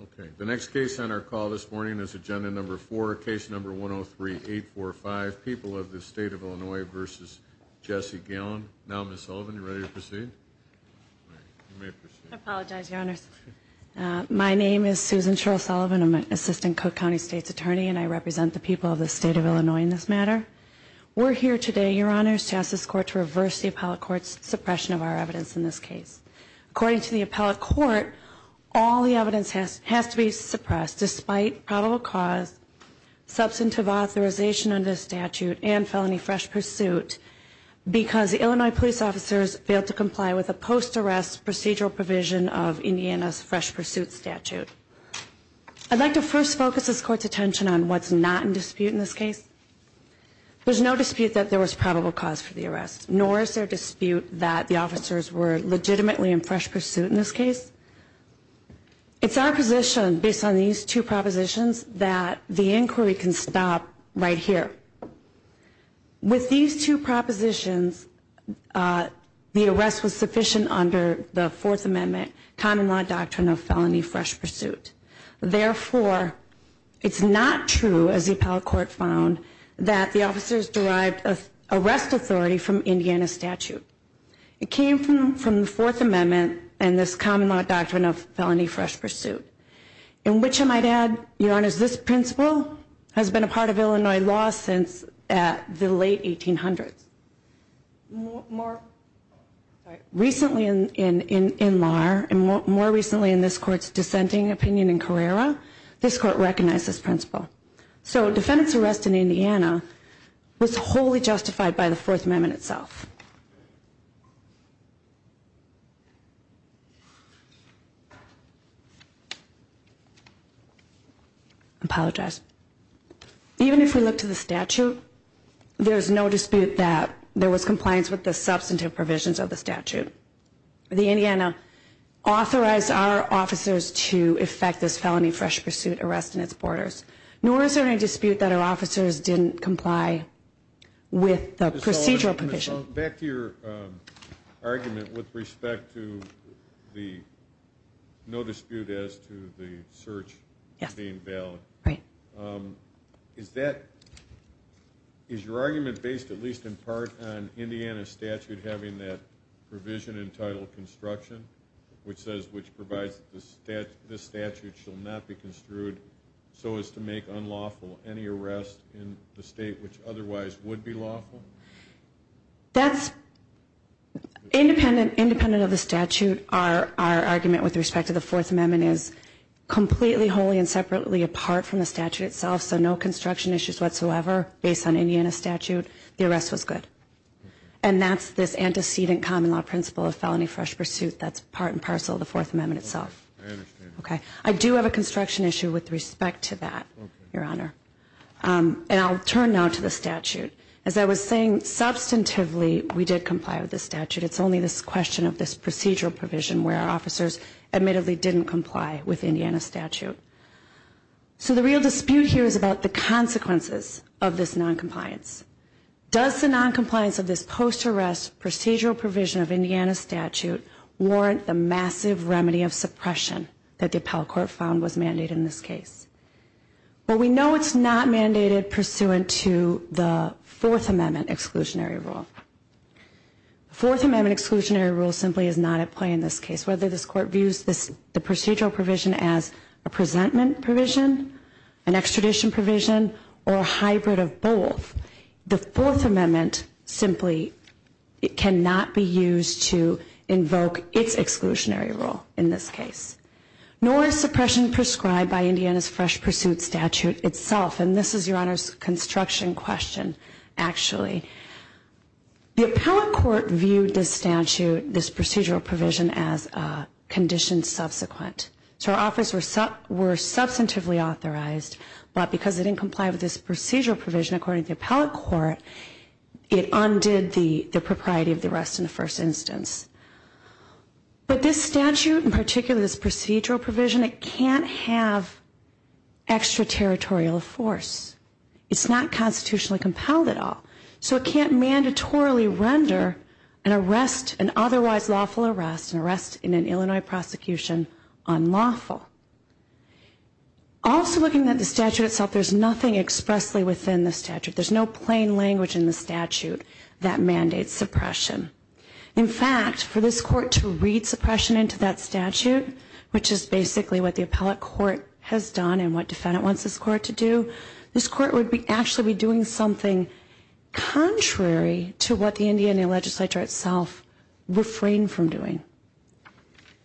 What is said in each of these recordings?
Okay, the next case on our call this morning is Agenda Number 4, Case Number 103-845, People of the State of Illinois v. Jesse Galan. Now, Ms. Sullivan, are you ready to proceed? I apologize, Your Honors. My name is Susan Sherrill Sullivan. I'm an Assistant Cook County State's Attorney, and I represent the people of the State of Illinois in this matter. We're here today, Your Honors, to ask this Court to reverse the Appellate Court's suppression of our evidence in this case. According to the Appellate Court, all the evidence has to be suppressed despite probable cause, substantive authorization under the statute, and felony fresh pursuit because Illinois police officers failed to comply with a post-arrest procedural provision of Indiana's fresh pursuit statute. I'd like to first focus this Court's attention on what's not in dispute in this case. There's no dispute that there was probable cause for the arrest, nor is there dispute that the officers were legitimately in fresh pursuit in this case. It's our position, based on these two propositions, that the inquiry can stop right here. With these two propositions, the arrest was sufficient under the Fourth Amendment Common Law Doctrine of Felony Fresh Pursuit. Therefore, it's not true, as the Appellate Court found, that the officers derived arrest authority from Indiana statute. It came from the Fourth Amendment and this Common Law Doctrine of Felony Fresh Pursuit. In which I might add, Your Honors, this principle has been a part of Illinois law since the late 1800s. More recently in this Court's dissenting opinion in Carrera, this Court recognized this principle. So, defendant's arrest in Indiana was wholly justified by the Fourth Amendment itself. I apologize. Even if we look to the statute, there's no dispute that there was compliance with the substantive provisions of the statute. The Indiana authorized our officers to effect this Felony Fresh Pursuit arrest in its borders. Nor is there any dispute that our officers didn't comply with the procedural provision. Well, back to your argument with respect to the no dispute as to the search being valid. Right. Is that, is your argument based at least in part on Indiana statute having that provision entitled construction? Which says, which provides the statute shall not be construed so as to make unlawful any arrest in the state which otherwise would be lawful? That's independent of the statute. Our argument with respect to the Fourth Amendment is completely wholly and separately apart from the statute itself. So, no construction issues whatsoever based on Indiana statute. The arrest was good. And that's this antecedent common law principle of Felony Fresh Pursuit that's part and parcel of the Fourth Amendment itself. I understand. Okay. I do have a construction issue with respect to that, Your Honor. And I'll turn now to the statute. As I was saying, substantively, we did comply with the statute. It's only this question of this procedural provision where our officers admittedly didn't comply with Indiana statute. So, the real dispute here is about the consequences of this noncompliance. Does the noncompliance of this post-arrest procedural provision of Indiana statute warrant the massive remedy of suppression that the Appellate Court found was mandated in this case? Well, we know it's not mandated pursuant to the Fourth Amendment exclusionary rule. The Fourth Amendment exclusionary rule simply is not at play in this case. Whether this Court views the procedural provision as a presentment provision, an extradition provision, or a hybrid of both, the Fourth Amendment simply cannot be used to invoke its exclusionary rule in this case. Nor is suppression prescribed by Indiana's fresh pursuit statute itself. And this is Your Honor's construction question, actually. The Appellate Court viewed this statute, this procedural provision, as a condition subsequent. So, our officers were substantively authorized, but because they didn't comply with this procedural provision, according to the Appellate Court, it undid the propriety of the arrest in the first instance. But this statute, in particular this procedural provision, it can't have extraterritorial force. It's not constitutionally compelled at all. So, it can't mandatorily render an arrest, an otherwise lawful arrest, an arrest in an Illinois prosecution unlawful. Also, looking at the statute itself, there's nothing expressly within the statute. There's no plain language in the statute that mandates suppression. In fact, for this court to read suppression into that statute, which is basically what the Appellate Court has done and what defendant wants this court to do, this court would actually be doing something contrary to what the Indiana legislature itself refrained from doing.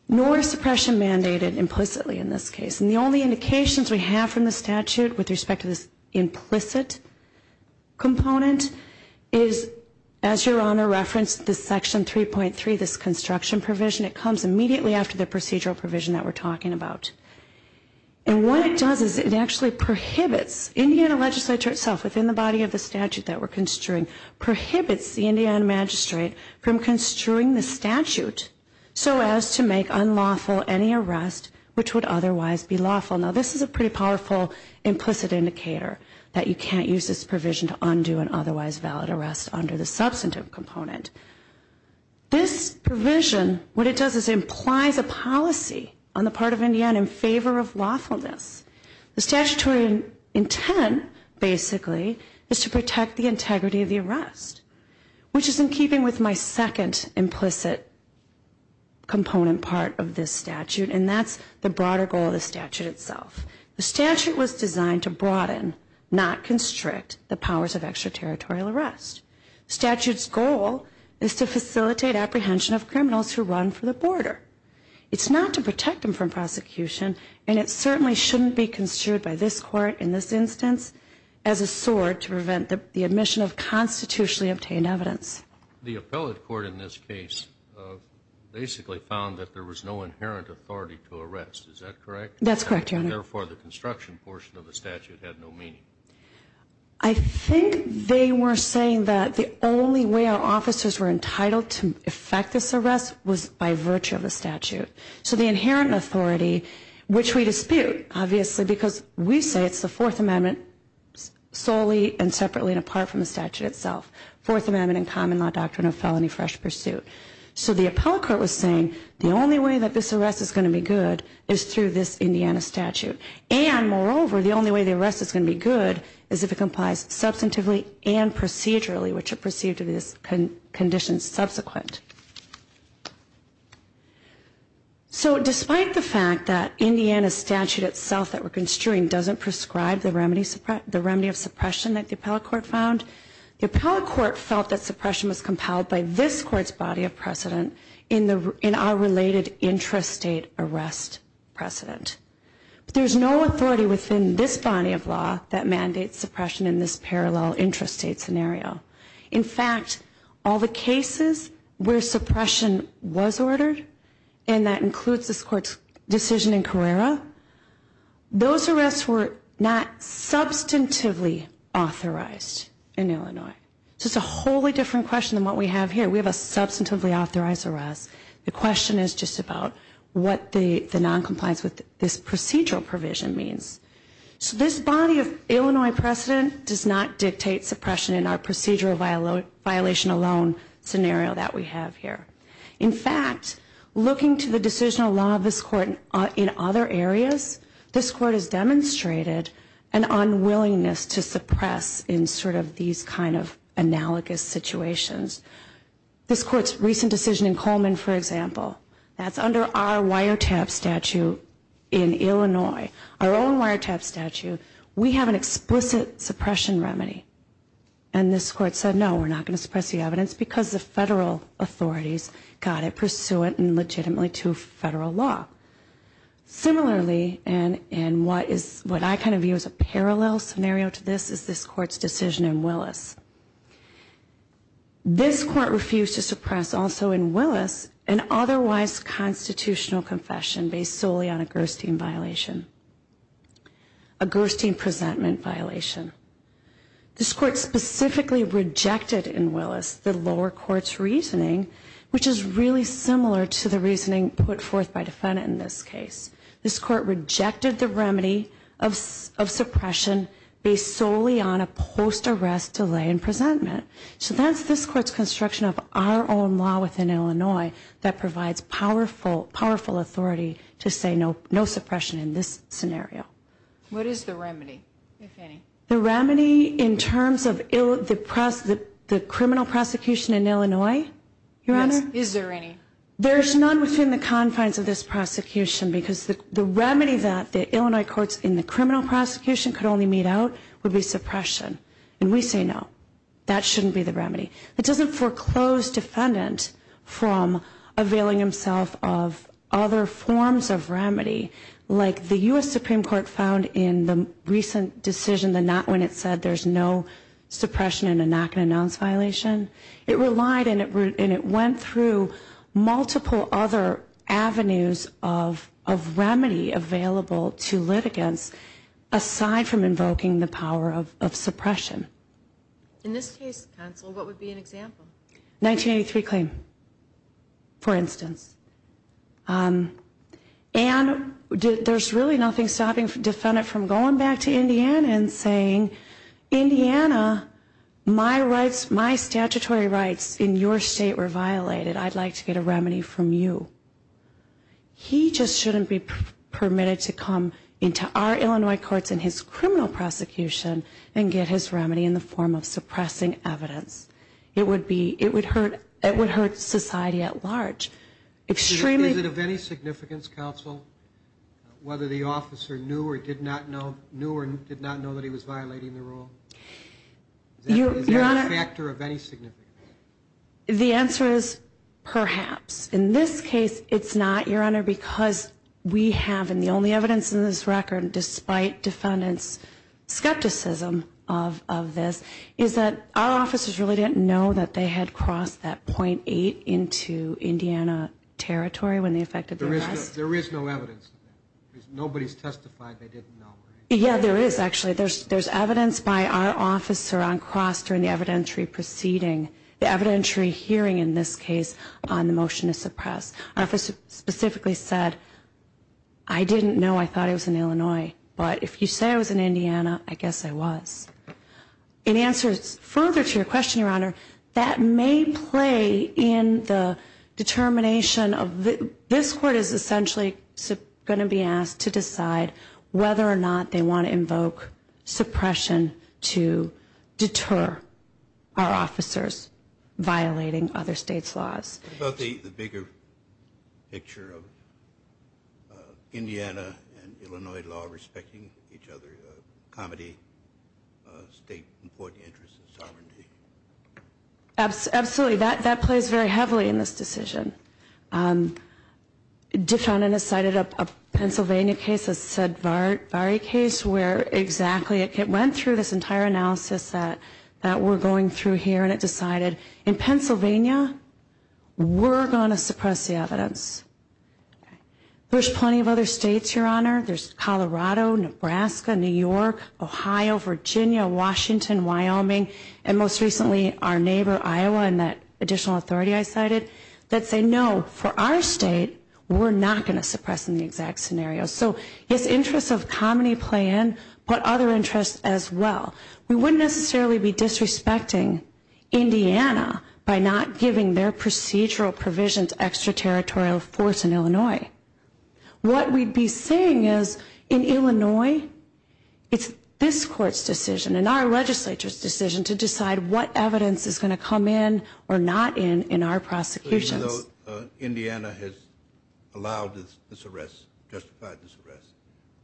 Nor is suppression mandated implicitly in this case. And the only indications we have from the statute with respect to this implicit component is, as Your Honor referenced, this section 3.3, this construction provision, it comes immediately after the procedural provision that we're talking about. And what it does is it actually prohibits Indiana legislature itself, within the body of the statute that we're construing, prohibits the Indiana magistrate from construing the statute so as to make unlawful any arrest which would otherwise be lawful. Now, this is a pretty powerful implicit indicator that you can't use this provision to undo an otherwise valid arrest under the substantive component. This provision, what it does is it implies a policy on the part of Indiana in favor of lawfulness. The statutory intent, basically, is to protect the integrity of the arrest, which is in keeping with my second implicit component part of this statute, and that's the broader goal of the statute itself. The statute was designed to broaden, not constrict, the powers of extraterritorial arrest. The statute's goal is to facilitate apprehension of criminals who run for the border. It's not to protect them from prosecution, and it certainly shouldn't be construed by this Court in this instance as a sword to prevent the admission of constitutionally obtained evidence. The appellate court in this case basically found that there was no inherent authority to arrest. Is that correct? That's correct, Your Honor. Therefore, the construction portion of the statute had no meaning. I think they were saying that the only way our officers were entitled to effect this arrest was by virtue of the statute. So the inherent authority, which we dispute, obviously, because we say it's the Fourth Amendment solely and separately and apart from the statute itself. Fourth Amendment and common law doctrine of felony fresh pursuit. So the appellate court was saying the only way that this arrest is going to be good is through this Indiana statute, and moreover, the only way the arrest is going to be good is if it complies substantively and procedurally, which are perceived to be the conditions subsequent. So despite the fact that Indiana statute itself that we're construing doesn't prescribe the remedy of suppression that the appellate court found, the appellate court felt that suppression was compelled by this court's body of precedent in our related intrastate arrest precedent. But there's no authority within this body of law that mandates suppression in this parallel intrastate scenario. In fact, all the cases where suppression was ordered, and that includes this court's decision in Carrera, those arrests were not substantively authorized in Illinois. So it's a wholly different question than what we have here. We have a substantively authorized arrest. The question is just about what the noncompliance with this procedural provision means. So this body of Illinois precedent does not dictate suppression in our procedural violation alone scenario that we have here. In fact, looking to the decisional law of this court in other areas, this court has demonstrated an unwillingness to suppress in sort of these kind of analogous situations. This court's recent decision in Coleman, for example, that's under our wiretap statute in Illinois, our own wiretap statute, we have an explicit suppression remedy. And this court said, no, we're not going to suppress the evidence, because the federal authorities got it pursuant and legitimately to federal law. Similarly, and what I kind of view as a parallel scenario to this is this court's decision in Willis. This court refused to suppress also in Willis an otherwise constitutional confession based solely on a Gerstein violation, a Gerstein presentment violation. This court specifically rejected in Willis the lower court's reasoning, which is really similar to the reasoning put forth by defendant in this case. This court rejected the remedy of suppression based solely on a post-arrest delay in presentment. So that's this court's construction of our own law within Illinois that provides powerful, powerful authority to say no suppression in this scenario. What is the remedy, if any? The remedy in terms of the criminal prosecution in Illinois, Your Honor? Is there any? There's none within the confines of this prosecution, because the remedy that the Illinois courts in the criminal prosecution could only meet out would be suppression. And we say no. That shouldn't be the remedy. It doesn't foreclose defendant from availing himself of other forms of remedy, like the U.S. Supreme Court found in the recent decision, the not when it said there's no suppression in a not-going-to-announce violation. It relied and it went through multiple other avenues of remedy available to litigants aside from invoking the power of suppression. In this case, counsel, what would be an example? 1983 claim, for instance. And there's really nothing stopping defendant from going back to Indiana and saying, Indiana, my statutory rights in your state were violated. I'd like to get a remedy from you. He just shouldn't be permitted to come into our Illinois courts in his criminal prosecution and get his remedy in the form of suppressing evidence. It would hurt society at large. Is it of any significance, counsel, whether the officer knew or did not know that he was violating the rule? Is that a factor of any significance? The answer is perhaps. In this case, it's not, Your Honor, because we have, and the only evidence in this record, despite defendants' skepticism of this, is that our officers really didn't know that they had crossed that .8 into Indiana territory when they effected the arrest. There is no evidence. Nobody's testified they didn't know. Yeah, there is, actually. There's evidence by our officer on cross during the evidentiary proceeding. The evidentiary hearing in this case on the motion to suppress. Our officer specifically said, I didn't know. I thought I was in Illinois. But if you say I was in Indiana, I guess I was. In answer further to your question, Your Honor, that may play in the determination of this court is essentially going to be asked to decide violating other states' laws. What about the bigger picture of Indiana and Illinois law respecting each other, comedy, state important interests and sovereignty? Absolutely. That plays very heavily in this decision. Defendant has cited a Pennsylvania case, a Sedvari case, where exactly it went through this entire analysis that we're going through here and it decided, in Pennsylvania, we're going to suppress the evidence. There's plenty of other states, Your Honor. There's Colorado, Nebraska, New York, Ohio, Virginia, Washington, Wyoming, and most recently our neighbor, Iowa, and that additional authority I cited, that say, no, for our state, we're not going to suppress in the exact scenario. So, yes, interests of comedy play in, but other interests as well. We wouldn't necessarily be disrespecting Indiana by not giving their procedural provisions extraterritorial force in Illinois. What we'd be saying is, in Illinois, it's this court's decision and our legislature's decision to decide what evidence is going to come in or not in in our prosecutions.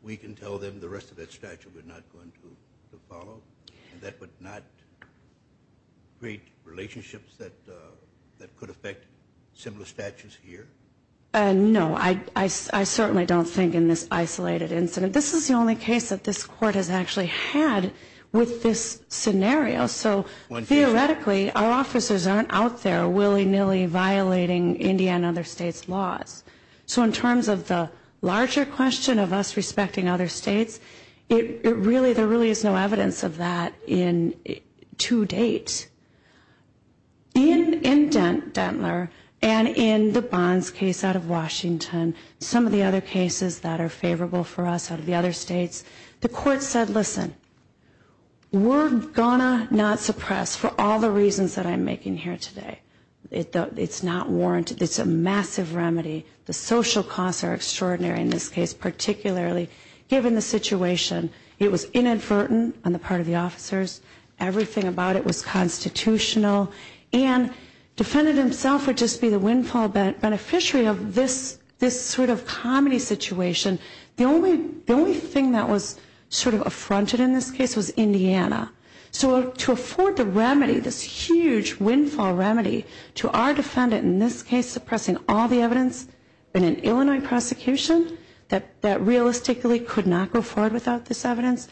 We can tell them the rest of that statute we're not going to follow? That would not create relationships that could affect similar statutes here? No. I certainly don't think in this isolated incident. This is the only case that this court has actually had with this scenario. So, theoretically, our officers aren't out there willy-nilly violating Indiana and other states' laws. So, in terms of the larger question of us respecting other states, there really is no evidence of that to date. In Dentler and in the Bonds case out of Washington, some of the other cases that are favorable for us out of the other states, the court said, listen, we're going to not suppress for all the reasons that I'm making here today. It's not warranted. It's a massive remedy. The social costs are extraordinary in this case, particularly given the situation. It was inadvertent on the part of the officers. Everything about it was constitutional. And defendant himself would just be the windfall beneficiary of this sort of comedy situation. The only thing that was sort of affronted in this case was Indiana. So, to afford the remedy, this huge windfall remedy to our defendant, in this case suppressing all the evidence in an Illinois prosecution that realistically could not go forward without this evidence,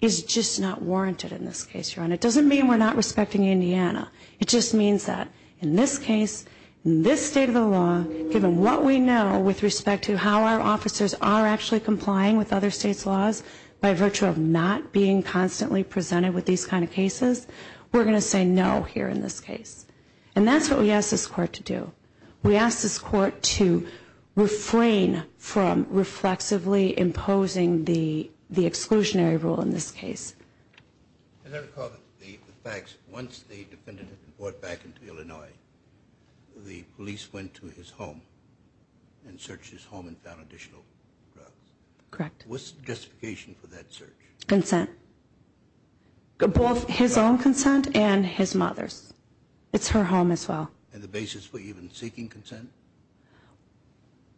is just not warranted in this case, Your Honor. It doesn't mean we're not respecting Indiana. It just means that in this case, in this state of the law, given what we know with respect to how our officers are actually complying with other states' laws by virtue of not being constantly presented with these kind of cases, we're going to say no here in this case. And that's what we asked this court to do. We asked this court to refrain from reflexively imposing the exclusionary rule in this case. I recall the facts. Once the defendant was brought back into Illinois, the police went to his home and searched his home and found additional drugs. Correct. What's the justification for that search? Consent. Both his own consent and his mother's. It's her home as well. And the basis for even seeking consent?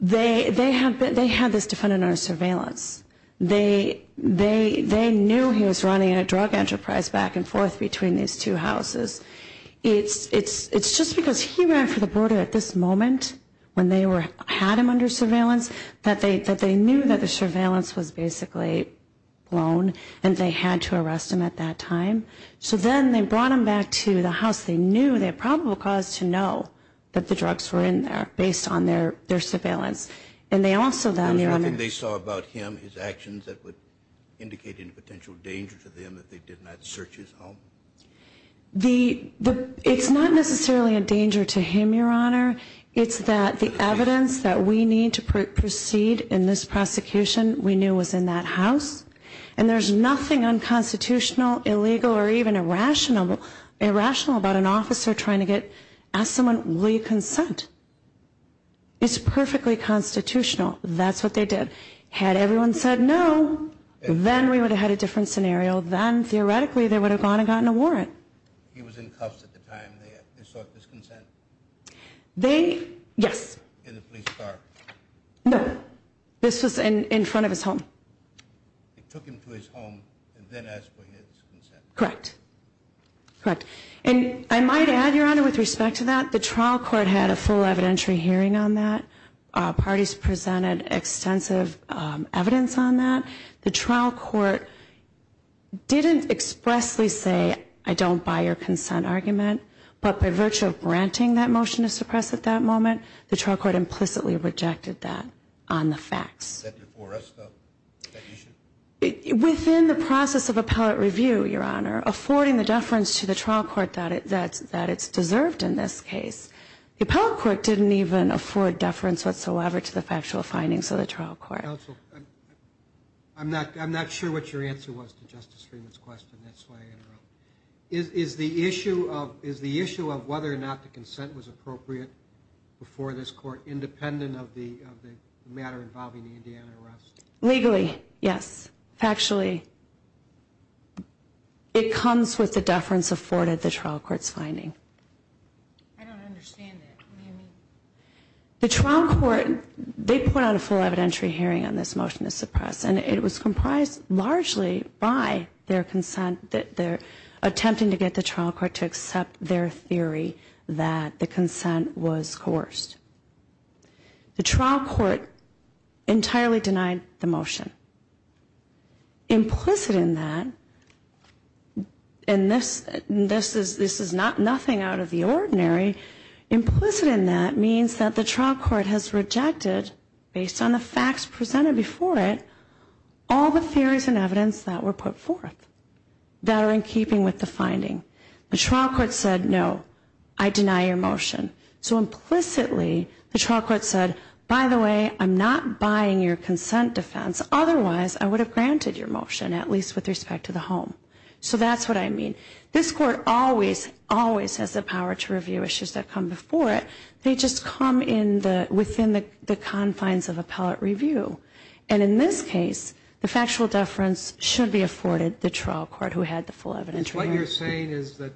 They had this defendant under surveillance. They knew he was running a drug enterprise back and forth between these two houses. It's just because he ran for the border at this moment when they had him under surveillance that they knew that the surveillance was basically blown and they had to arrest him at that time. So then they brought him back to the house. They knew they had probable cause to know that the drugs were in there based on their surveillance. And they also then, Your Honor. Was there anything they saw about him, his actions, that would indicate any potential danger to them if they did not search his home? It's not necessarily a danger to him, Your Honor. It's that the evidence that we need to proceed in this prosecution we knew was in that house. And there's nothing unconstitutional, illegal, or even irrational about an officer trying to get, ask someone, will you consent? It's perfectly constitutional. That's what they did. Had everyone said no, then we would have had a different scenario. Then, theoretically, they would have gone and gotten a warrant. He was in cuffs at the time they sought this consent. They, yes. In the police car. No. This was in front of his home. They took him to his home and then asked for his consent. Correct. Correct. And I might add, Your Honor, with respect to that, the trial court had a full evidentiary hearing on that. Parties presented extensive evidence on that. The trial court didn't expressly say, I don't buy your consent argument. But by virtue of granting that motion to suppress at that moment, the trial court implicitly rejected that on the facts. Is that before us, though, that you should? Within the process of appellate review, Your Honor, affording the deference to the trial court that it's deserved in this case, the appellate court didn't even afford deference whatsoever to the factual findings of the trial court. Counsel, I'm not sure what your answer was to Justice Freeman's question. That's why I interrupted. Is the issue of whether or not the consent was appropriate before this court independent of the matter involving the Indiana arrest? Legally, yes. Factually, it comes with the deference afforded the trial court's finding. I don't understand that. What do you mean? The trial court, they put out a full evidentiary hearing on this motion to suppress, and it was comprised largely by their consent, their attempting to get the trial court to accept their theory that the consent was coerced. The trial court entirely denied the motion. Implicit in that, and this is not nothing out of the ordinary, implicit in that means that the trial court has rejected, based on the facts presented before it, all the theories and evidence that were put forth that are in keeping with the finding. The trial court said, no, I deny your motion. So implicitly, the trial court said, by the way, I'm not buying your consent defense. Otherwise, I would have granted your motion, at least with respect to the home. So that's what I mean. This court always, always has the power to review issues that come before it. They just come within the confines of appellate review. And in this case, the factual deference should be afforded the trial court who had the full evidentiary hearing. What you're saying is that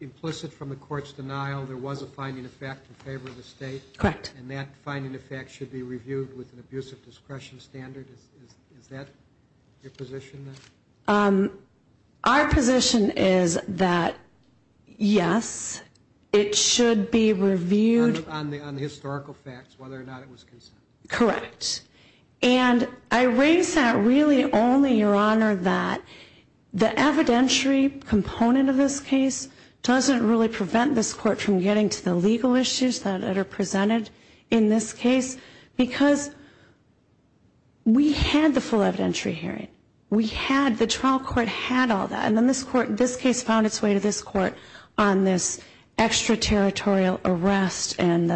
implicit from the court's denial, there was a finding of fact in favor of the state? Correct. And that finding of fact should be reviewed with an abusive discretion standard? Is that your position? Our position is that, yes, it should be reviewed. On the historical facts, whether or not it was consent? Correct. And I raise that really only, Your Honor, that the evidentiary component of this case doesn't really prevent this court from getting to the legal issues that are presented in this case because we had the full evidentiary hearing. We had, the trial court had all that. And then this court, this case found its way to this court on this extraterritorial arrest and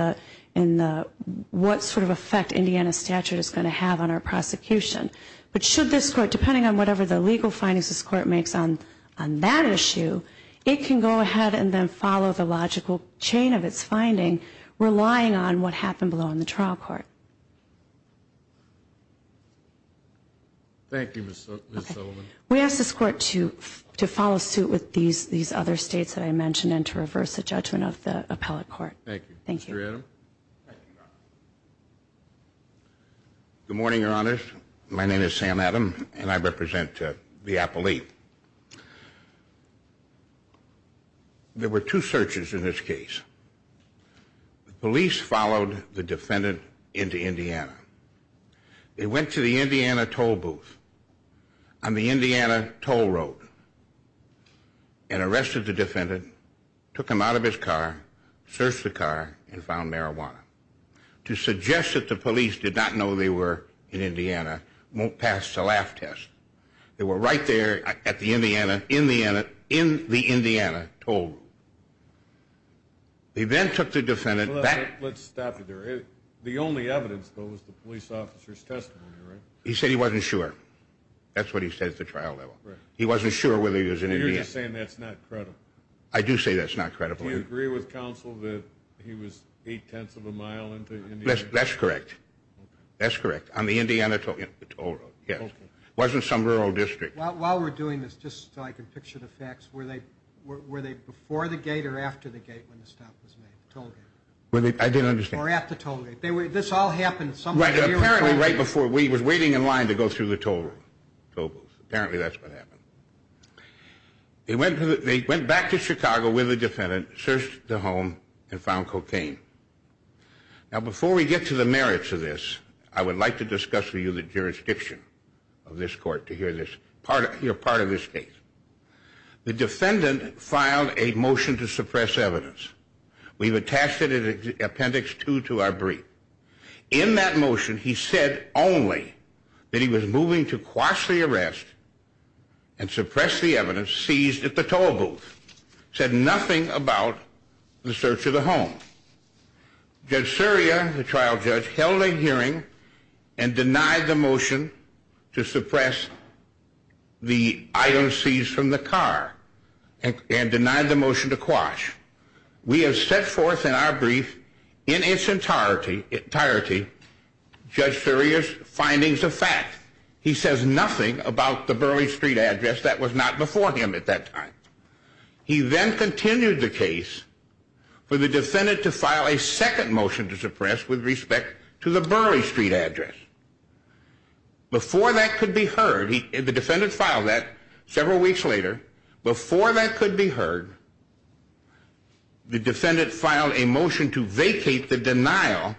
what sort of effect Indiana statute is going to have on our prosecution. But should this court, depending on whatever the legal findings this court makes on that issue, it can go ahead and then follow the logical chain of its finding, relying on what happened below in the trial court. Thank you, Ms. Sullivan. We ask this court to follow suit with these other states that I mentioned and to reverse the judgment of the appellate court. Thank you. Thank you. Mr. Adam. Good morning, Your Honors. My name is Sam Adam, and I represent the appellate. There were two searches in this case. The police followed the defendant into Indiana. They went to the Indiana toll booth on the Indiana toll road and arrested the defendant, took him out of his car, searched the car, and found marijuana. To suggest that the police did not know they were in Indiana won't pass the laugh test. They were right there at the Indiana, in the Indiana toll. They then took the defendant back. Let's stop there. The only evidence, though, was the police officer's testimony, right? He said he wasn't sure. That's what he said at the trial level. Right. He wasn't sure whether he was in Indiana. You're just saying that's not credible. I do say that's not credible. Do you agree with counsel that he was eight-tenths of a mile into Indiana? That's correct. That's correct. On the Indiana toll road, yes. Wasn't some rural district. While we're doing this, just so I can picture the facts, were they before the gate or after the gate when the stop was made? The toll gate. I didn't understand. Or at the toll gate. This all happened somewhere near Indiana. Apparently right before. He was waiting in line to go through the toll booth. Apparently that's what happened. They went back to Chicago with the defendant, searched the home, and found cocaine. Now, before we get to the merits of this, I would like to discuss with you the jurisdiction of this court to hear part of this case. The defendant filed a motion to suppress evidence. We've attached it in Appendix 2 to our brief. In that motion, he said only that he was moving to quash the arrest and suppress the evidence seized at the toll booth. Said nothing about the search of the home. Judge Surya, the trial judge, held a hearing and denied the motion to suppress the item seized from the car and denied the motion to quash. We have set forth in our brief in its entirety Judge Surya's findings of fact. He says nothing about the Burley Street address. That was not before him at that time. He then continued the case for the defendant to file a second motion to suppress with respect to the Burley Street address. Before that could be heard, the defendant filed that several weeks later. Before that could be heard, the defendant filed a motion to vacate the denial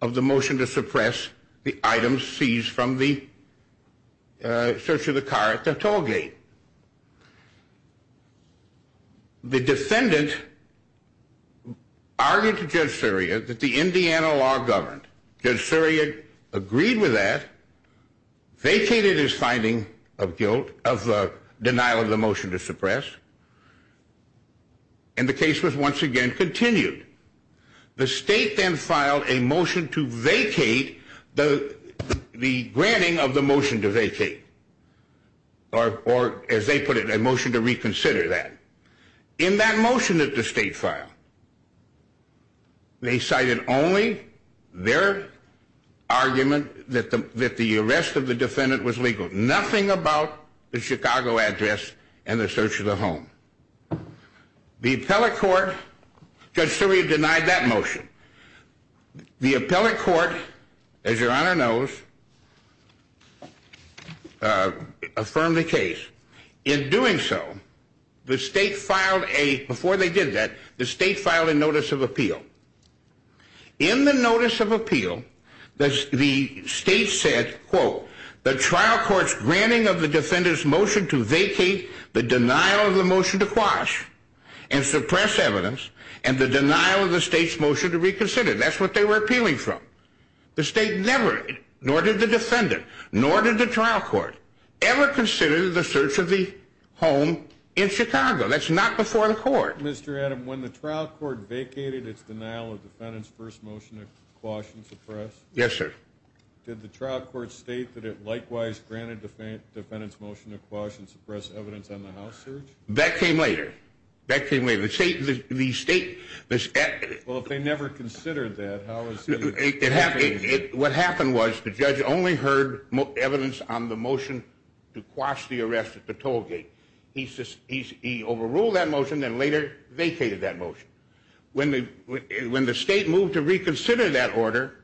of the motion to suppress the item seized from the search of the car at the toll gate. The defendant argued to Judge Surya that the Indiana law governed. Judge Surya agreed with that, vacated his finding of guilt, of the denial of the motion to suppress, and the case was once again continued. The state then filed a motion to vacate the granting of the motion to vacate, or as they put it, a motion to reconsider that. In that motion that the state filed, they cited only their argument that the arrest of the defendant was legal, nothing about the Chicago address and the search of the home. The appellate court, Judge Surya denied that motion. The appellate court, as your Honor knows, affirmed the case. In doing so, the state filed a, before they did that, the state filed a notice of appeal. In the notice of appeal, the state said, quote, the trial court's granting of the defendant's motion to vacate the denial of the motion to quash and suppress evidence and the denial of the state's motion to reconsider. That's what they were appealing from. The state never, nor did the defendant, nor did the trial court, ever consider the search of the home in Chicago. That's not before the court. Mr. Adam, when the trial court vacated its denial of the defendant's first motion to quash and suppress, Yes, sir. did the trial court state that it likewise granted the defendant's motion to quash and suppress evidence on the house search? That came later. That came later. The state, the state, Well, if they never considered that, how is it? What happened was the judge only heard evidence on the motion to quash the arrest at the toll gate. He overruled that motion and later vacated that motion. When the state moved to reconsider that order,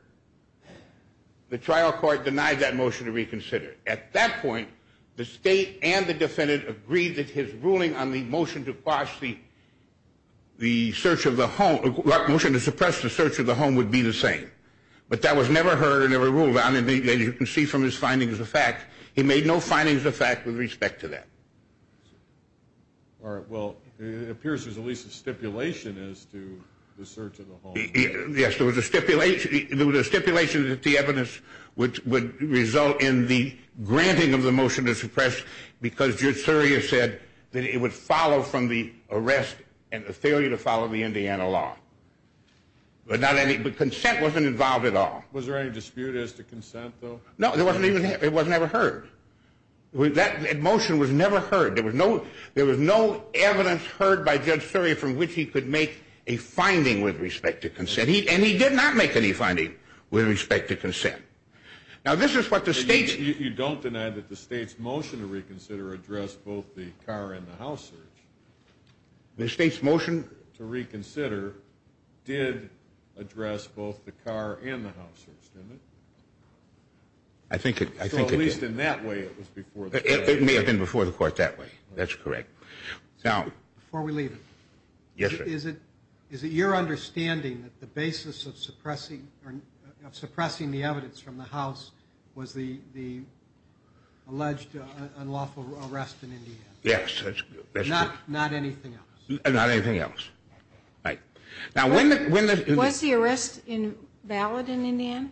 the trial court denied that motion to reconsider. At that point, the state and the defendant agreed that his ruling on the motion to quash the search of the home, the motion to suppress the search of the home would be the same. But that was never heard and never ruled. You can see from his findings of fact, he made no findings of fact with respect to that. All right. Well, it appears there's at least a stipulation as to the search of the home. Yes, there was a stipulation. There was a stipulation that the evidence would result in the granting of the motion to suppress because Judge Surya said that it would follow from the arrest and the failure to follow the Indiana law. But not any, but consent wasn't involved at all. Was there any dispute as to consent, though? No, there wasn't even, it was never heard. That motion was never heard. There was no evidence heard by Judge Surya from which he could make a finding with respect to consent, and he did not make any finding with respect to consent. Now, this is what the state's… You don't deny that the state's motion to reconsider addressed both the car and the house search. The state's motion to reconsider did address both the car and the house search, didn't it? I think it did. So at least in that way it was before the court. It may have been before the court that way. That's correct. Before we leave it, is it your understanding that the basis of suppressing the evidence from the house was the alleged unlawful arrest in Indiana? Yes, that's correct. Not anything else? Not anything else. Right. Was the arrest valid in Indiana?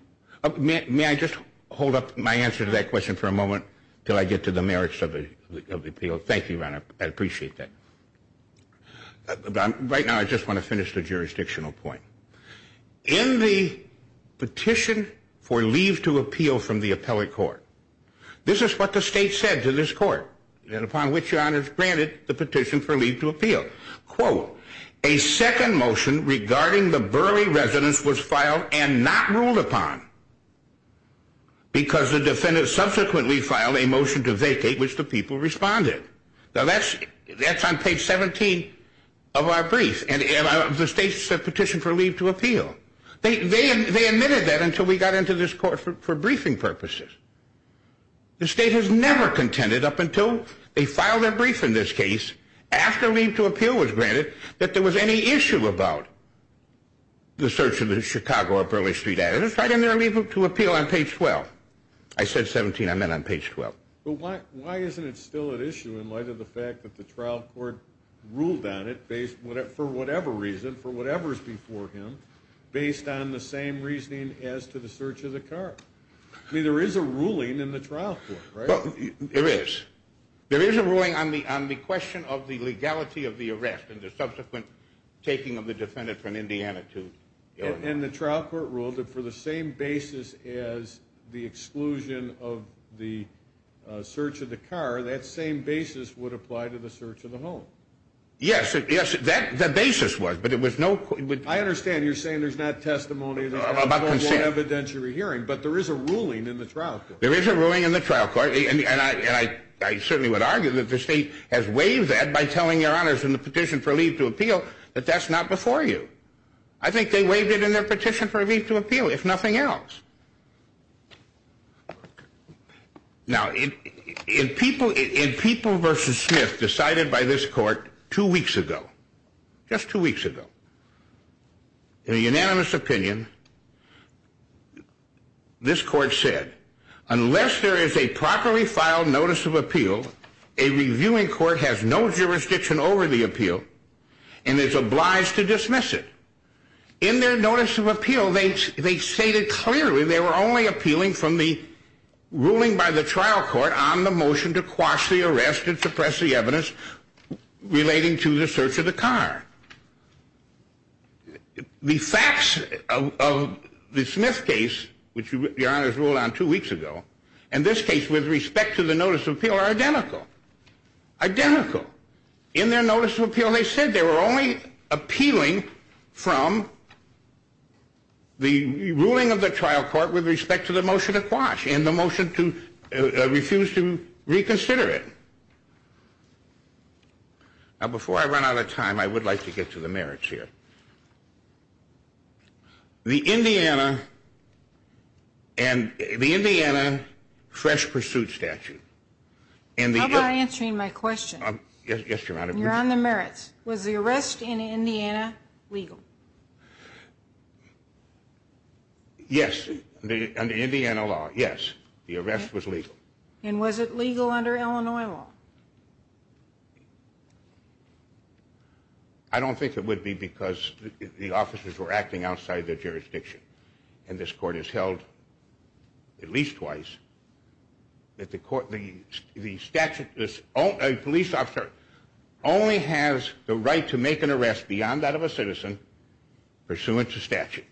May I just hold up my answer to that question for a moment until I get to the merits of the appeal? Thank you, Your Honor. I appreciate that. Right now I just want to finish the jurisdictional point. In the petition for leave to appeal from the appellate court, this is what the state said to this court, upon which Your Honor is granted the petition for leave to appeal. A second motion regarding the Burley residence was filed and not ruled upon because the defendant subsequently filed a motion to vacate, which the people responded. Now that's on page 17 of our brief, and the state's petition for leave to appeal. They admitted that until we got into this court for briefing purposes. The state has never contended, up until they filed their brief in this case, after leave to appeal was granted, that there was any issue about the search of the Chicago or Burley Street address. It's right in their leave to appeal on page 12. I said 17. I meant on page 12. But why isn't it still an issue in light of the fact that the trial court ruled on it for whatever reason, for whatever's before him, based on the same reasoning as to the search of the car? I mean, there is a ruling in the trial court, right? Well, there is. There is a ruling on the question of the legality of the arrest and the subsequent taking of the defendant from Indiana to Illinois. And the trial court ruled that for the same basis as the exclusion of the search of the car, that same basis would apply to the search of the home. Yes, yes, that basis was, but it was no... I understand you're saying there's not testimony... Evidentiary hearing, but there is a ruling in the trial court. There is a ruling in the trial court, and I certainly would argue that the state has waived that by telling your honors in the petition for leave to appeal that that's not before you. I think they waived it in their petition for leave to appeal, if nothing else. Now, in People v. Smith, decided by this court two weeks ago, just two weeks ago, in a unanimous opinion, this court said, unless there is a properly filed notice of appeal, a reviewing court has no jurisdiction over the appeal and is obliged to dismiss it. In their notice of appeal, they stated clearly they were only appealing from the ruling by the trial court to quash the arrest and suppress the evidence relating to the search of the car. The facts of the Smith case, which your honors ruled on two weeks ago, and this case with respect to the notice of appeal are identical. Identical. In their notice of appeal, they said they were only appealing from the ruling of the trial court with respect to the motion to quash and the motion to refuse to reconsider it. Now, before I run out of time, I would like to get to the merits here. The Indiana fresh pursuit statute. How about answering my question? Yes, your honor. You're on the merits. Was the arrest in Indiana legal? Yes, in the Indiana law, yes, the arrest was legal. And was it legal under Illinois law? I don't think it would be because the officers were acting outside their jurisdiction. And this court has held at least twice that the statute, a police officer only has the right to make an arrest beyond that of a citizen pursuant to statute.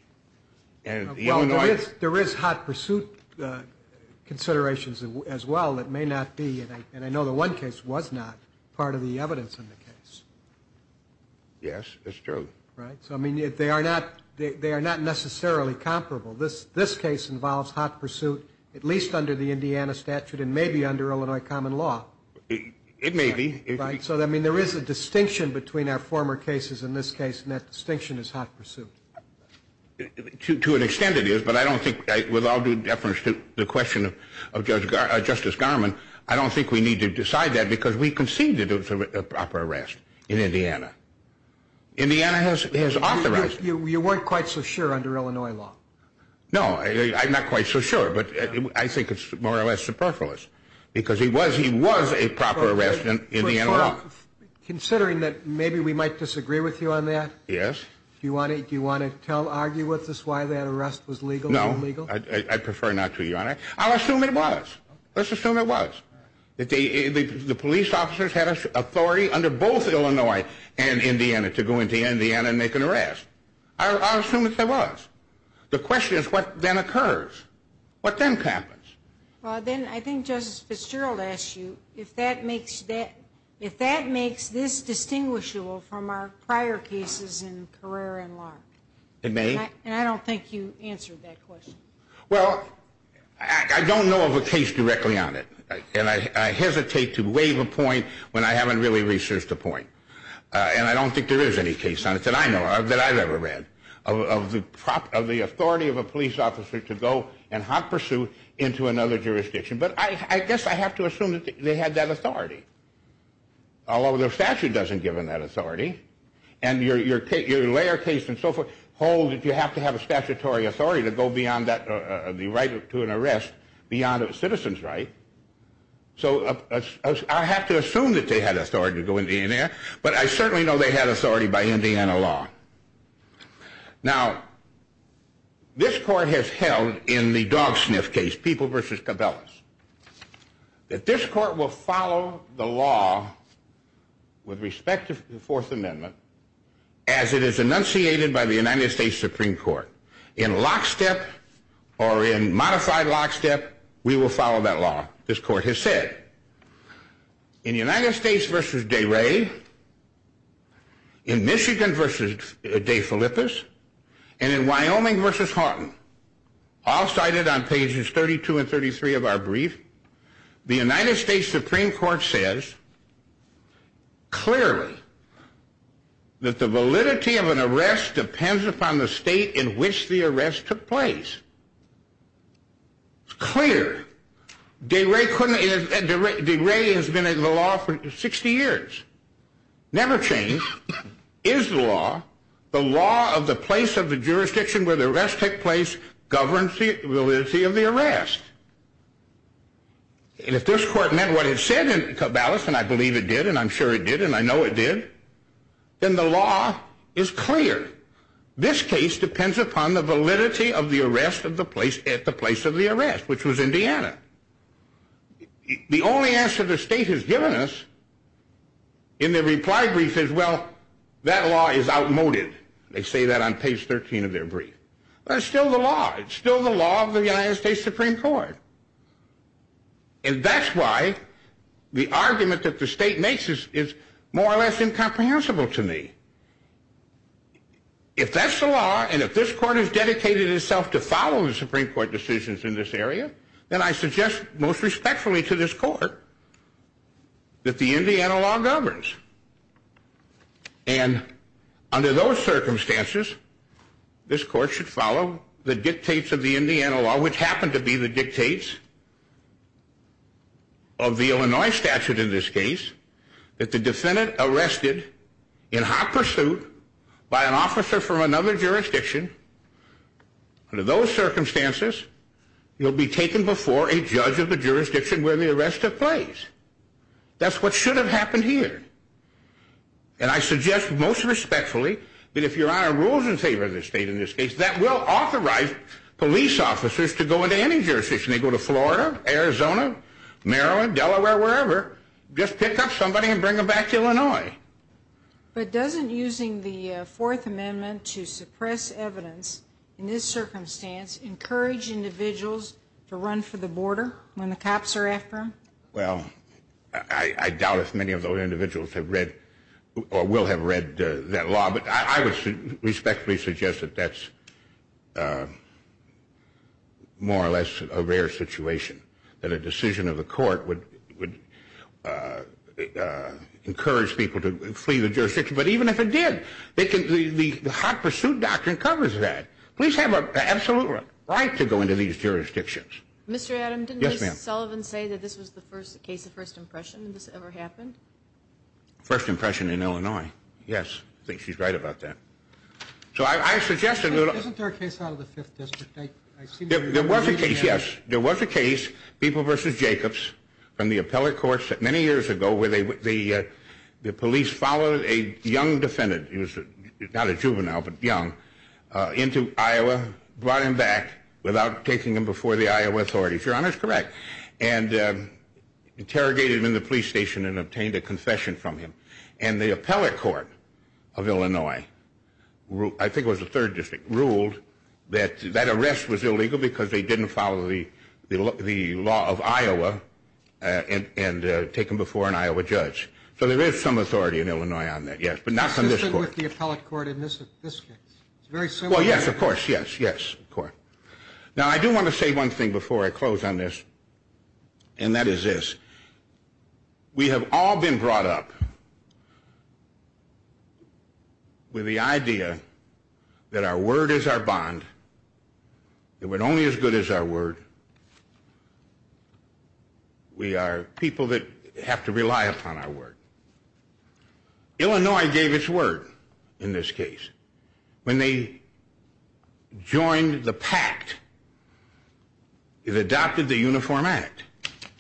There is hot pursuit considerations as well that may not be, and I know the one case was not, part of the evidence in the case. Yes, that's true. They are not necessarily comparable. This case involves hot pursuit at least under the Indiana statute and maybe under Illinois common law. It may be. So, I mean, there is a distinction between our former cases in this case, and that distinction is hot pursuit. To an extent it is, but I don't think, with all due deference to the question of Justice Garmon, I don't think we need to decide that because we conceded it was a proper arrest in Indiana. Indiana has authorized it. But you weren't quite so sure under Illinois law. No, I'm not quite so sure, but I think it's more or less superfluous, because he was a proper arrest in Indiana law. Considering that maybe we might disagree with you on that. Yes. Do you want to argue with us why that arrest was legal or illegal? No, I'd prefer not to, Your Honor. I'll assume it was. Let's assume it was. The police officers had authority under both Illinois and Indiana to go into Indiana and make an arrest. I'll assume that there was. The question is what then occurs. What then happens? Well, then I think Justice Fitzgerald asked you if that makes this distinguishable from our prior cases in Carrera and Lark. It may. And I don't think you answered that question. Well, I don't know of a case directly on it, and I hesitate to waive a point when I haven't really researched a point. And I don't think there is any case on it that I know of that I've ever read of the authority of a police officer to go and hot pursuit into another jurisdiction. But I guess I have to assume that they had that authority, although the statute doesn't give them that authority. And your layer case and so forth hold that you have to have a statutory authority to go beyond the right to an arrest beyond a citizen's right. So I have to assume that they had authority to go into Indiana, but I certainly know they had authority by Indiana law. Now, this court has held in the dog sniff case, People v. Cabelas, that this court will follow the law with respect to the Fourth Amendment as it is enunciated by the United States Supreme Court. In lockstep or in modified lockstep, we will follow that law, this court has said. In United States v. DeRay, in Michigan v. DeFilippis, and in Wyoming v. Houghton, all cited on pages 32 and 33 of our brief, the United States Supreme Court says clearly that the validity of an arrest depends upon the state in which the arrest took place. It's clear. DeRay has been in the law for 60 years, never changed, is the law, the law of the place of the jurisdiction where the arrest took place, governs the validity of the arrest. And if this court meant what it said in Cabelas, and I believe it did, and I'm sure it did, and I know it did, then the law is clear. This case depends upon the validity of the arrest at the place of the arrest, which was Indiana. The only answer the state has given us in the reply brief is, well, that law is outmoded. They say that on page 13 of their brief. But it's still the law, it's still the law of the United States Supreme Court. And that's why the argument that the state makes is more or less incomprehensible to me. If that's the law, and if this court has dedicated itself to follow the Supreme Court decisions in this area, then I suggest most respectfully to this court that the Indiana law governs. And under those circumstances, this court should follow the dictates of the Indiana law, which happen to be the dictates of the Illinois statute in this case, that the defendant arrested in hot pursuit by an officer from another jurisdiction, under those circumstances, will be taken before a judge of the jurisdiction where the arrest took place. That's what should have happened here. And I suggest most respectfully that if Your Honor rules in favor of the state in this case, that will authorize police officers to go into any jurisdiction. They go to Florida, Arizona, Maryland, Delaware, wherever. Just pick up somebody and bring them back to Illinois. But doesn't using the Fourth Amendment to suppress evidence in this circumstance encourage individuals to run for the border when the cops are after them? Well, I doubt if many of those individuals have read or will have read that law, but I would respectfully suggest that that's more or less a rare situation, that a decision of the court would encourage people to flee the jurisdiction. But even if it did, the hot pursuit doctrine covers that. Police have an absolute right to go into these jurisdictions. Mr. Adams, didn't Ms. Sullivan say that this was the first case of first impression, and this ever happened? First impression in Illinois, yes. I think she's right about that. So I suggested that... Isn't there a case out of the Fifth District? There was a case, yes. There was a case, People v. Jacobs, from the appellate courts many years ago where the police followed a young defendant, not a juvenile but young, into Iowa, and brought him back without taking him before the Iowa authorities. Your Honor is correct. And interrogated him in the police station and obtained a confession from him. And the appellate court of Illinois, I think it was the Third District, ruled that that arrest was illegal because they didn't follow the law of Iowa and take him before an Iowa judge. So there is some authority in Illinois on that, yes, but not from this court. It's the same with the appellate court in this case. It's very similar. Well, yes, of course, yes, yes, of course. Now I do want to say one thing before I close on this, and that is this. We have all been brought up with the idea that our word is our bond, that we're only as good as our word. We are people that have to rely upon our word. Illinois gave its word in this case. When they joined the pact, it adopted the Uniform Act.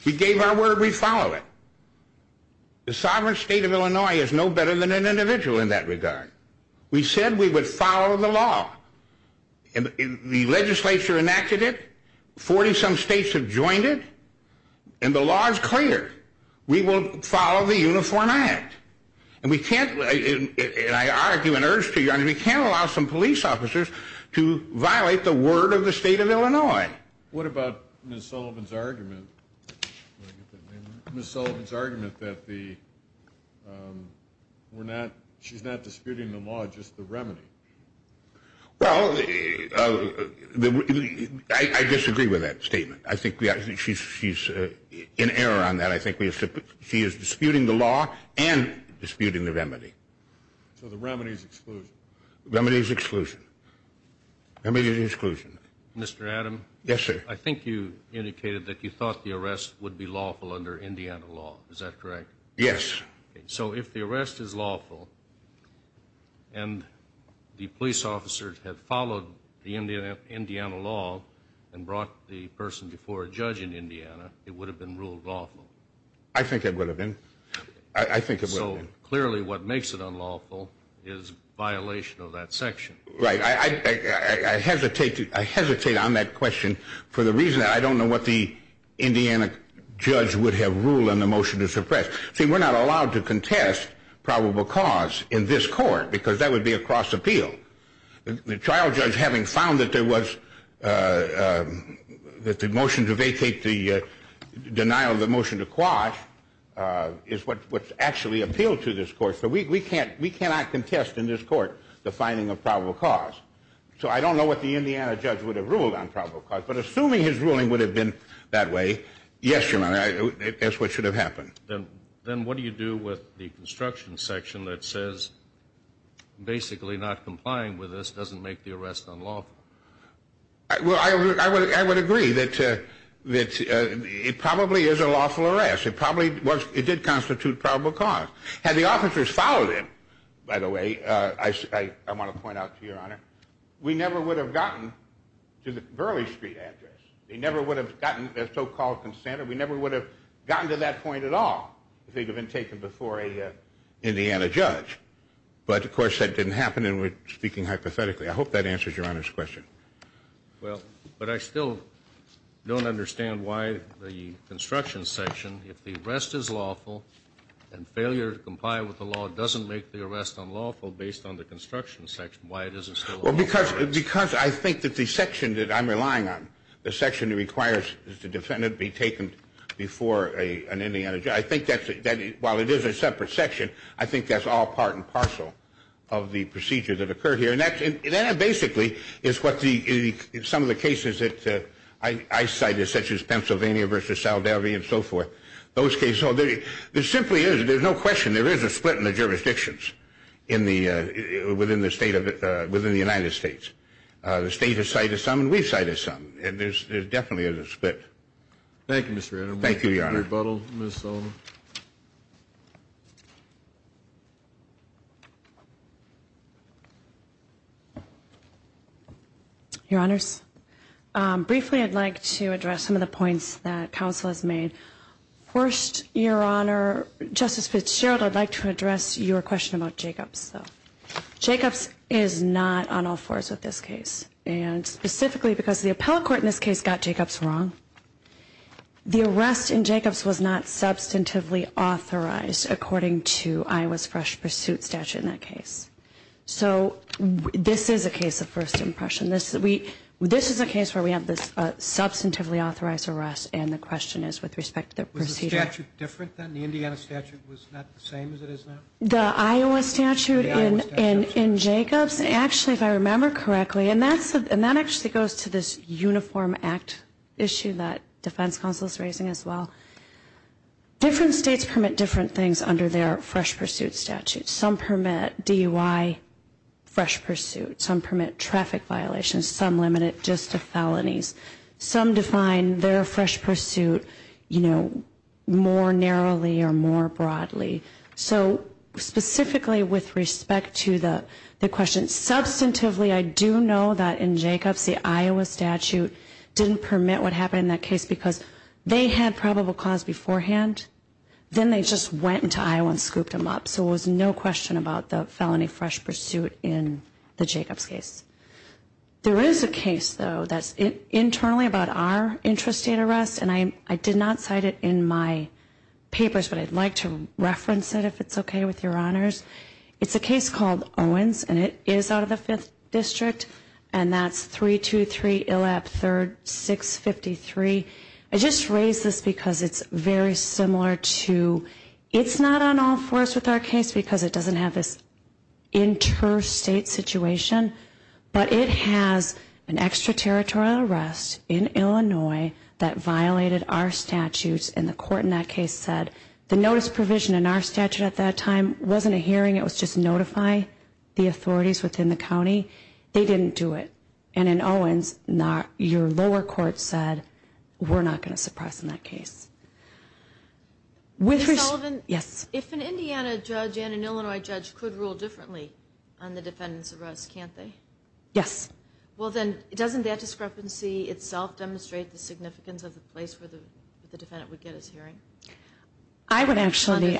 We gave our word, we follow it. The sovereign state of Illinois is no better than an individual in that regard. We said we would follow the law. The legislature enacted it. Forty-some states have joined it. And the law is clear. We will follow the Uniform Act. And we can't, and I argue and urge to you, we can't allow some police officers to violate the word of the state of Illinois. What about Ms. Sullivan's argument that she's not disputing the law, just the remedy? Well, I disagree with that statement. I think she's in error on that. I think she is disputing the law and disputing the remedy. So the remedy is exclusion? The remedy is exclusion. The remedy is exclusion. Mr. Adams? Yes, sir. I think you indicated that you thought the arrest would be lawful under Indiana law. Is that correct? Yes. So if the arrest is lawful and the police officers have followed the Indiana law and brought the person before a judge in Indiana, it would have been ruled lawful? I think it would have been. I think it would have been. So clearly what makes it unlawful is violation of that section. Right. I hesitate on that question for the reason that I don't know what the Indiana judge would have ruled on the motion to suppress. See, we're not allowed to contest probable cause in this court because that would be a cross appeal. The trial judge, having found that there was the motion to vacate the denial of the motion to quash, is what actually appealed to this court. So we cannot contest in this court the finding of probable cause. So I don't know what the Indiana judge would have ruled on probable cause. But assuming his ruling would have been that way, yes, Your Honor, that's what should have happened. Then what do you do with the construction section that says basically not complying with this doesn't make the arrest unlawful? Well, I would agree that it probably is a lawful arrest. It probably was. It did constitute probable cause. Had the officers followed him, by the way, I want to point out to Your Honor, we never would have gotten to the Burleigh Street address. They never would have gotten their so-called consent We never would have gotten to that point at all if they had been taken before an Indiana judge. But, of course, that didn't happen, and we're speaking hypothetically. I hope that answers Your Honor's question. Well, but I still don't understand why the construction section, if the arrest is lawful and failure to comply with the law doesn't make the arrest unlawful based on the construction section, why it isn't still a lawful arrest. Well, because I think that the section that I'm relying on, the section that requires the defendant be taken before an Indiana judge, I think that while it is a separate section, I think that's all part and parcel of the procedure that occurred here. And that basically is what some of the cases that I cited, such as Pennsylvania versus Saldivia and so forth, those cases, there simply is, there's no question, there is a split in the jurisdictions within the United States. The state has cited some and we've cited some, and there definitely is a split. Thank you, Mr. Edelman. Thank you, Your Honor. Rebuttal, Ms. Sullivan. Your Honors, briefly I'd like to address some of the points that counsel has made. First, Your Honor, Justice Fitzgerald, I'd like to address your question about Jacobs. Jacobs is not on all fours with this case, and specifically because the appellate court in this case got Jacobs wrong. The arrest in Jacobs was not substantively authorized, according to Iowa's fresh pursuit statute in that case. So this is a case of first impression. This is a case where we have this substantively authorized arrest, and the question is with respect to the procedure. Was the statute different then? The Indiana statute was not the same as it is now? The Iowa statute in Jacobs, actually if I remember correctly, and that actually goes to this Uniform Act issue that defense counsel is raising as well. Different states permit different things under their fresh pursuit statute. Some permit DUI fresh pursuit. Some permit traffic violations. Some limit it just to felonies. Some define their fresh pursuit, you know, more narrowly or more broadly. So specifically with respect to the question, substantively I do know that in Jacobs, the Iowa statute didn't permit what happened in that case because they had probable cause beforehand. Then they just went into Iowa and scooped them up. So it was no question about the felony fresh pursuit in the Jacobs case. There is a case, though, that's internally about our intrastate arrest, and I did not cite it in my papers, but I'd like to reference it if it's okay with your honors. It's a case called Owens, and it is out of the 5th District, and that's 323 Illap 3rd, 653. I just raise this because it's very similar to, it's not on all fours with our case because it doesn't have this interstate situation, but it has an extraterritorial arrest in Illinois that violated our statutes, and the court in that case said the notice provision in our statute at that time wasn't a hearing, it was just notify the authorities within the county. They didn't do it. And in Owens, your lower court said we're not going to suppress in that case. Ms. Sullivan? Yes. If an Indiana judge and an Illinois judge could rule differently on the defendant's arrest, can't they? Yes. Well, then, doesn't that discrepancy itself demonstrate the significance of the place where the defendant would get his hearing? I would actually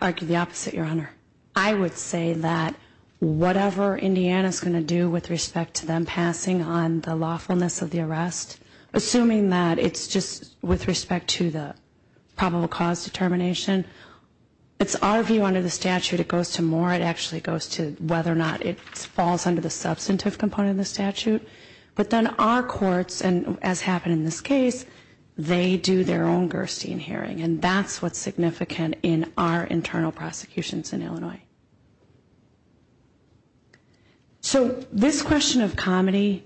argue the opposite, Your Honor. I would say that whatever Indiana is going to do with respect to them passing on the lawfulness of the arrest, assuming that it's just with respect to the probable cause determination, it's our view under the statute, it goes to Moore, it actually goes to whether or not it falls under the substantive component of the statute. But then our courts, and as happened in this case, they do their own Gerstein hearing, and that's what's significant in our internal prosecutions in Illinois. Okay. So this question of comedy,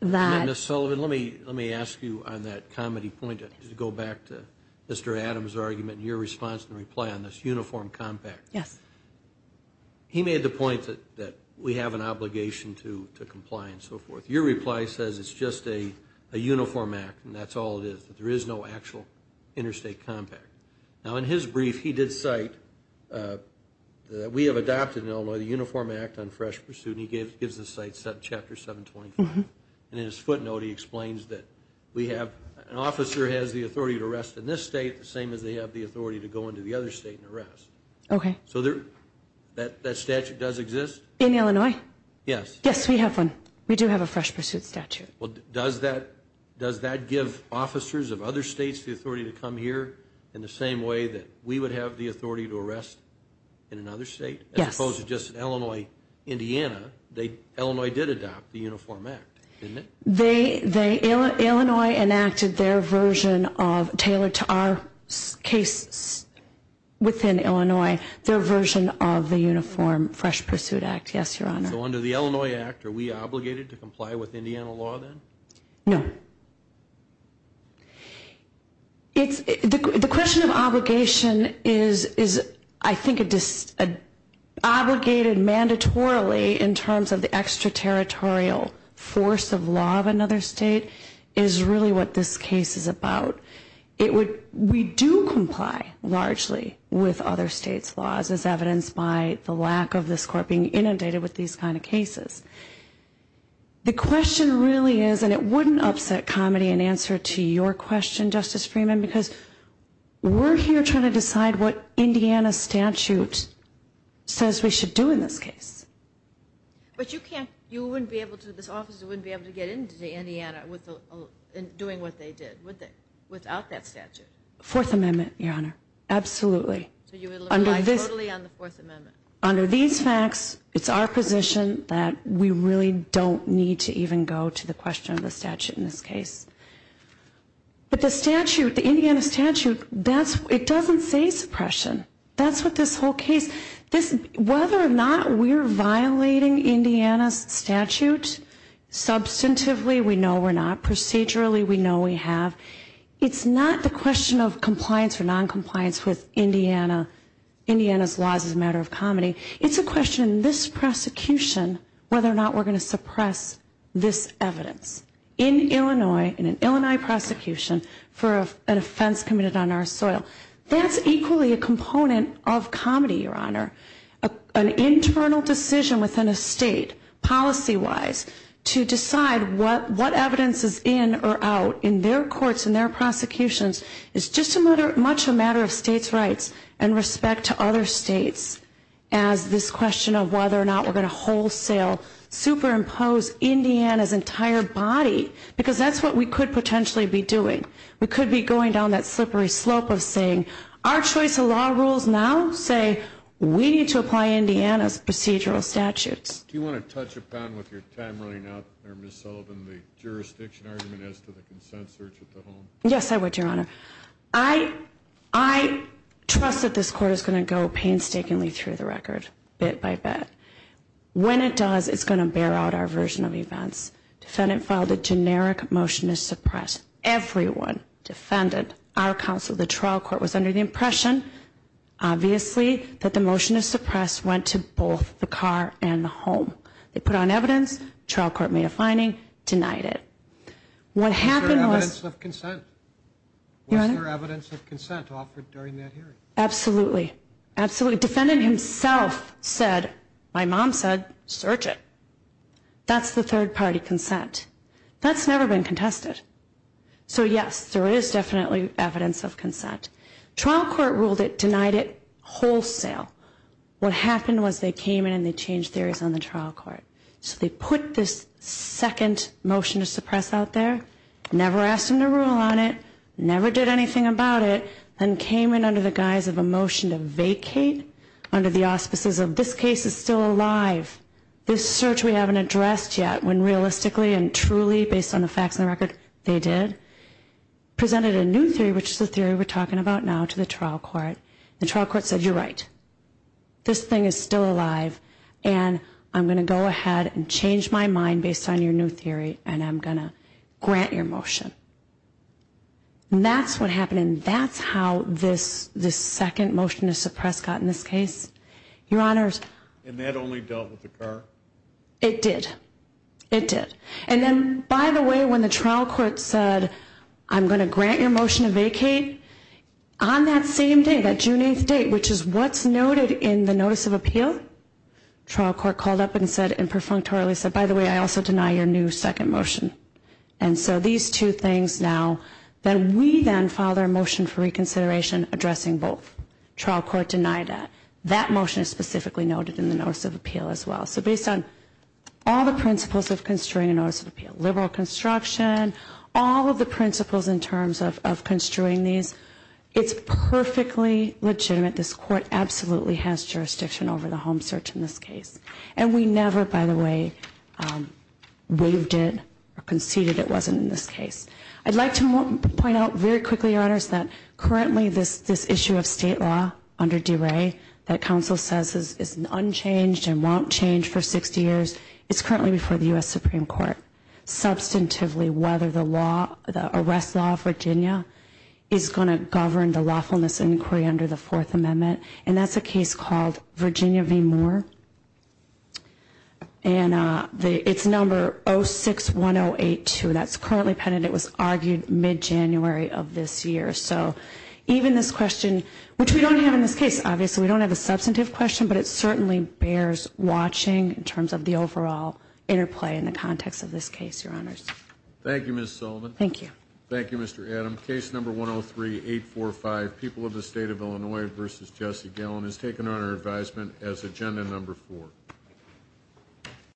that – Ms. Sullivan, let me ask you on that comedy point, just to go back to Mr. Adams' argument and your response and reply on this uniform compact. Yes. He made the point that we have an obligation to comply and so forth. Your reply says it's just a uniform act and that's all it is, that there is no actual interstate compact. Now, in his brief, he did cite that we have adopted in Illinois the Uniform Act on Fresh Pursuit, and he gives the cite chapter 725. And in his footnote, he explains that we have – an officer has the authority to arrest in this state the same as they have the authority to go into the other state and arrest. Okay. So that statute does exist? In Illinois? Yes. Yes, we have one. We do have a fresh pursuit statute. Okay. Well, does that give officers of other states the authority to come here in the same way that we would have the authority to arrest in another state? Yes. As opposed to just in Illinois, Indiana. Illinois did adopt the Uniform Act, didn't it? They – Illinois enacted their version of – tailored to our case within Illinois, their version of the Uniform Fresh Pursuit Act. Yes, Your Honor. So under the Illinois Act, are we obligated to comply with Indiana law then? No. It's – the question of obligation is, I think, a – obligated mandatorily in terms of the extraterritorial force of law of another state is really what this case is about. It would – we do comply largely with other states' laws, as evidenced by the lack of this court being inundated with these kind of cases. The question really is, and it wouldn't upset comedy in answer to your question, Justice Freeman, because we're here trying to decide what Indiana statute says we should do in this case. But you can't – you wouldn't be able to – this officer wouldn't be able to get into Indiana with the – doing what they did, would they, without that statute? Fourth Amendment, Your Honor. Absolutely. So you would rely totally on the Fourth Amendment? Under these facts, it's our position that we really don't need to even go to the question of the statute in this case. But the statute, the Indiana statute, that's – it doesn't say suppression. That's what this whole case – this – whether or not we're violating Indiana's statute, substantively we know we're not, procedurally we know we have. It's not the question of compliance or noncompliance with Indiana's laws as a matter of comedy. It's a question in this prosecution whether or not we're going to suppress this evidence. In Illinois, in an Illinois prosecution, for an offense committed on our soil. That's equally a component of comedy, Your Honor. An internal decision within a state, policy-wise, to decide what evidence is in or out in their courts, in their prosecutions, is just as much a matter of states' rights and respect to other states as this question of whether or not we're going to wholesale, superimpose Indiana's entire body. Because that's what we could potentially be doing. We could be going down that slippery slope of saying, our choice of law rules now say we need to apply Indiana's procedural statutes. Do you want to touch upon with your time running out there, Ms. Sullivan, the jurisdiction argument as to the consent search at the home? Yes, I would, Your Honor. I – I trust that this court is going to go painstakingly through the record, bit by bit. When it does, it's going to bear out our version of events. Defendant filed a generic motion to suppress. Everyone, defendant, our counsel, the trial court, was under the impression, obviously, that the motion to suppress went to both the car and the home. They put on evidence, trial court made a finding, denied it. What happened was – Was there evidence of consent? Your Honor? Was there evidence of consent offered during that hearing? Absolutely. Absolutely. Defendant himself said, my mom said, search it. That's the third-party consent. That's never been contested. So, yes, there is definitely evidence of consent. Trial court ruled it, denied it, wholesale. What happened was they came in and they changed theories on the trial court. So they put this second motion to suppress out there, never asked them to rule on it, never did anything about it, then came in under the guise of a motion to vacate under the auspices of this case is still alive. This search we haven't addressed yet, when realistically and truly, based on the facts and the record, they did, presented a new theory, which is the theory we're talking about now, to the trial court. The trial court said, you're right, this thing is still alive, and I'm going to go ahead and change my mind based on your new theory, and I'm going to grant your motion. And that's what happened, and that's how this second motion to suppress got in this case. Your Honors? And that only dealt with the car? It did. It did. And then, by the way, when the trial court said, I'm going to grant your motion to vacate, on that same day, that June 8th date, which is what's noted in the notice of appeal, trial court called up and said, and perfunctorily said, by the way, I also deny your new second motion. And so these two things now, then we then file their motion for reconsideration addressing both. Trial court denied that. That motion is specifically noted in the notice of appeal as well. So based on all the principles of construing a notice of appeal, liberal construction, all of the principles in terms of construing these, it's perfectly legitimate. This court absolutely has jurisdiction over the home search in this case. And we never, by the way, waived it or conceded it wasn't in this case. I'd like to point out very quickly, Your Honors, that currently this issue of state law under DeRay that counsel says is unchanged and won't change for 60 years, it's currently before the U.S. Supreme Court substantively whether the arrest law of Virginia is going to govern the lawfulness inquiry under the Fourth Amendment. And that's a case called Virginia v. Moore. And it's number 061082. That's currently pending. It was argued mid-January of this year. So even this question, which we don't have in this case, obviously we don't have a substantive question, but it certainly bears watching in terms of the overall interplay in the context of this case, Your Honors. Thank you, Ms. Sullivan. Thank you. Thank you, Mr. Adam. Case number 103-845, People of the State of Illinois v. Jesse Gellin, is taken under advisement as agenda number four.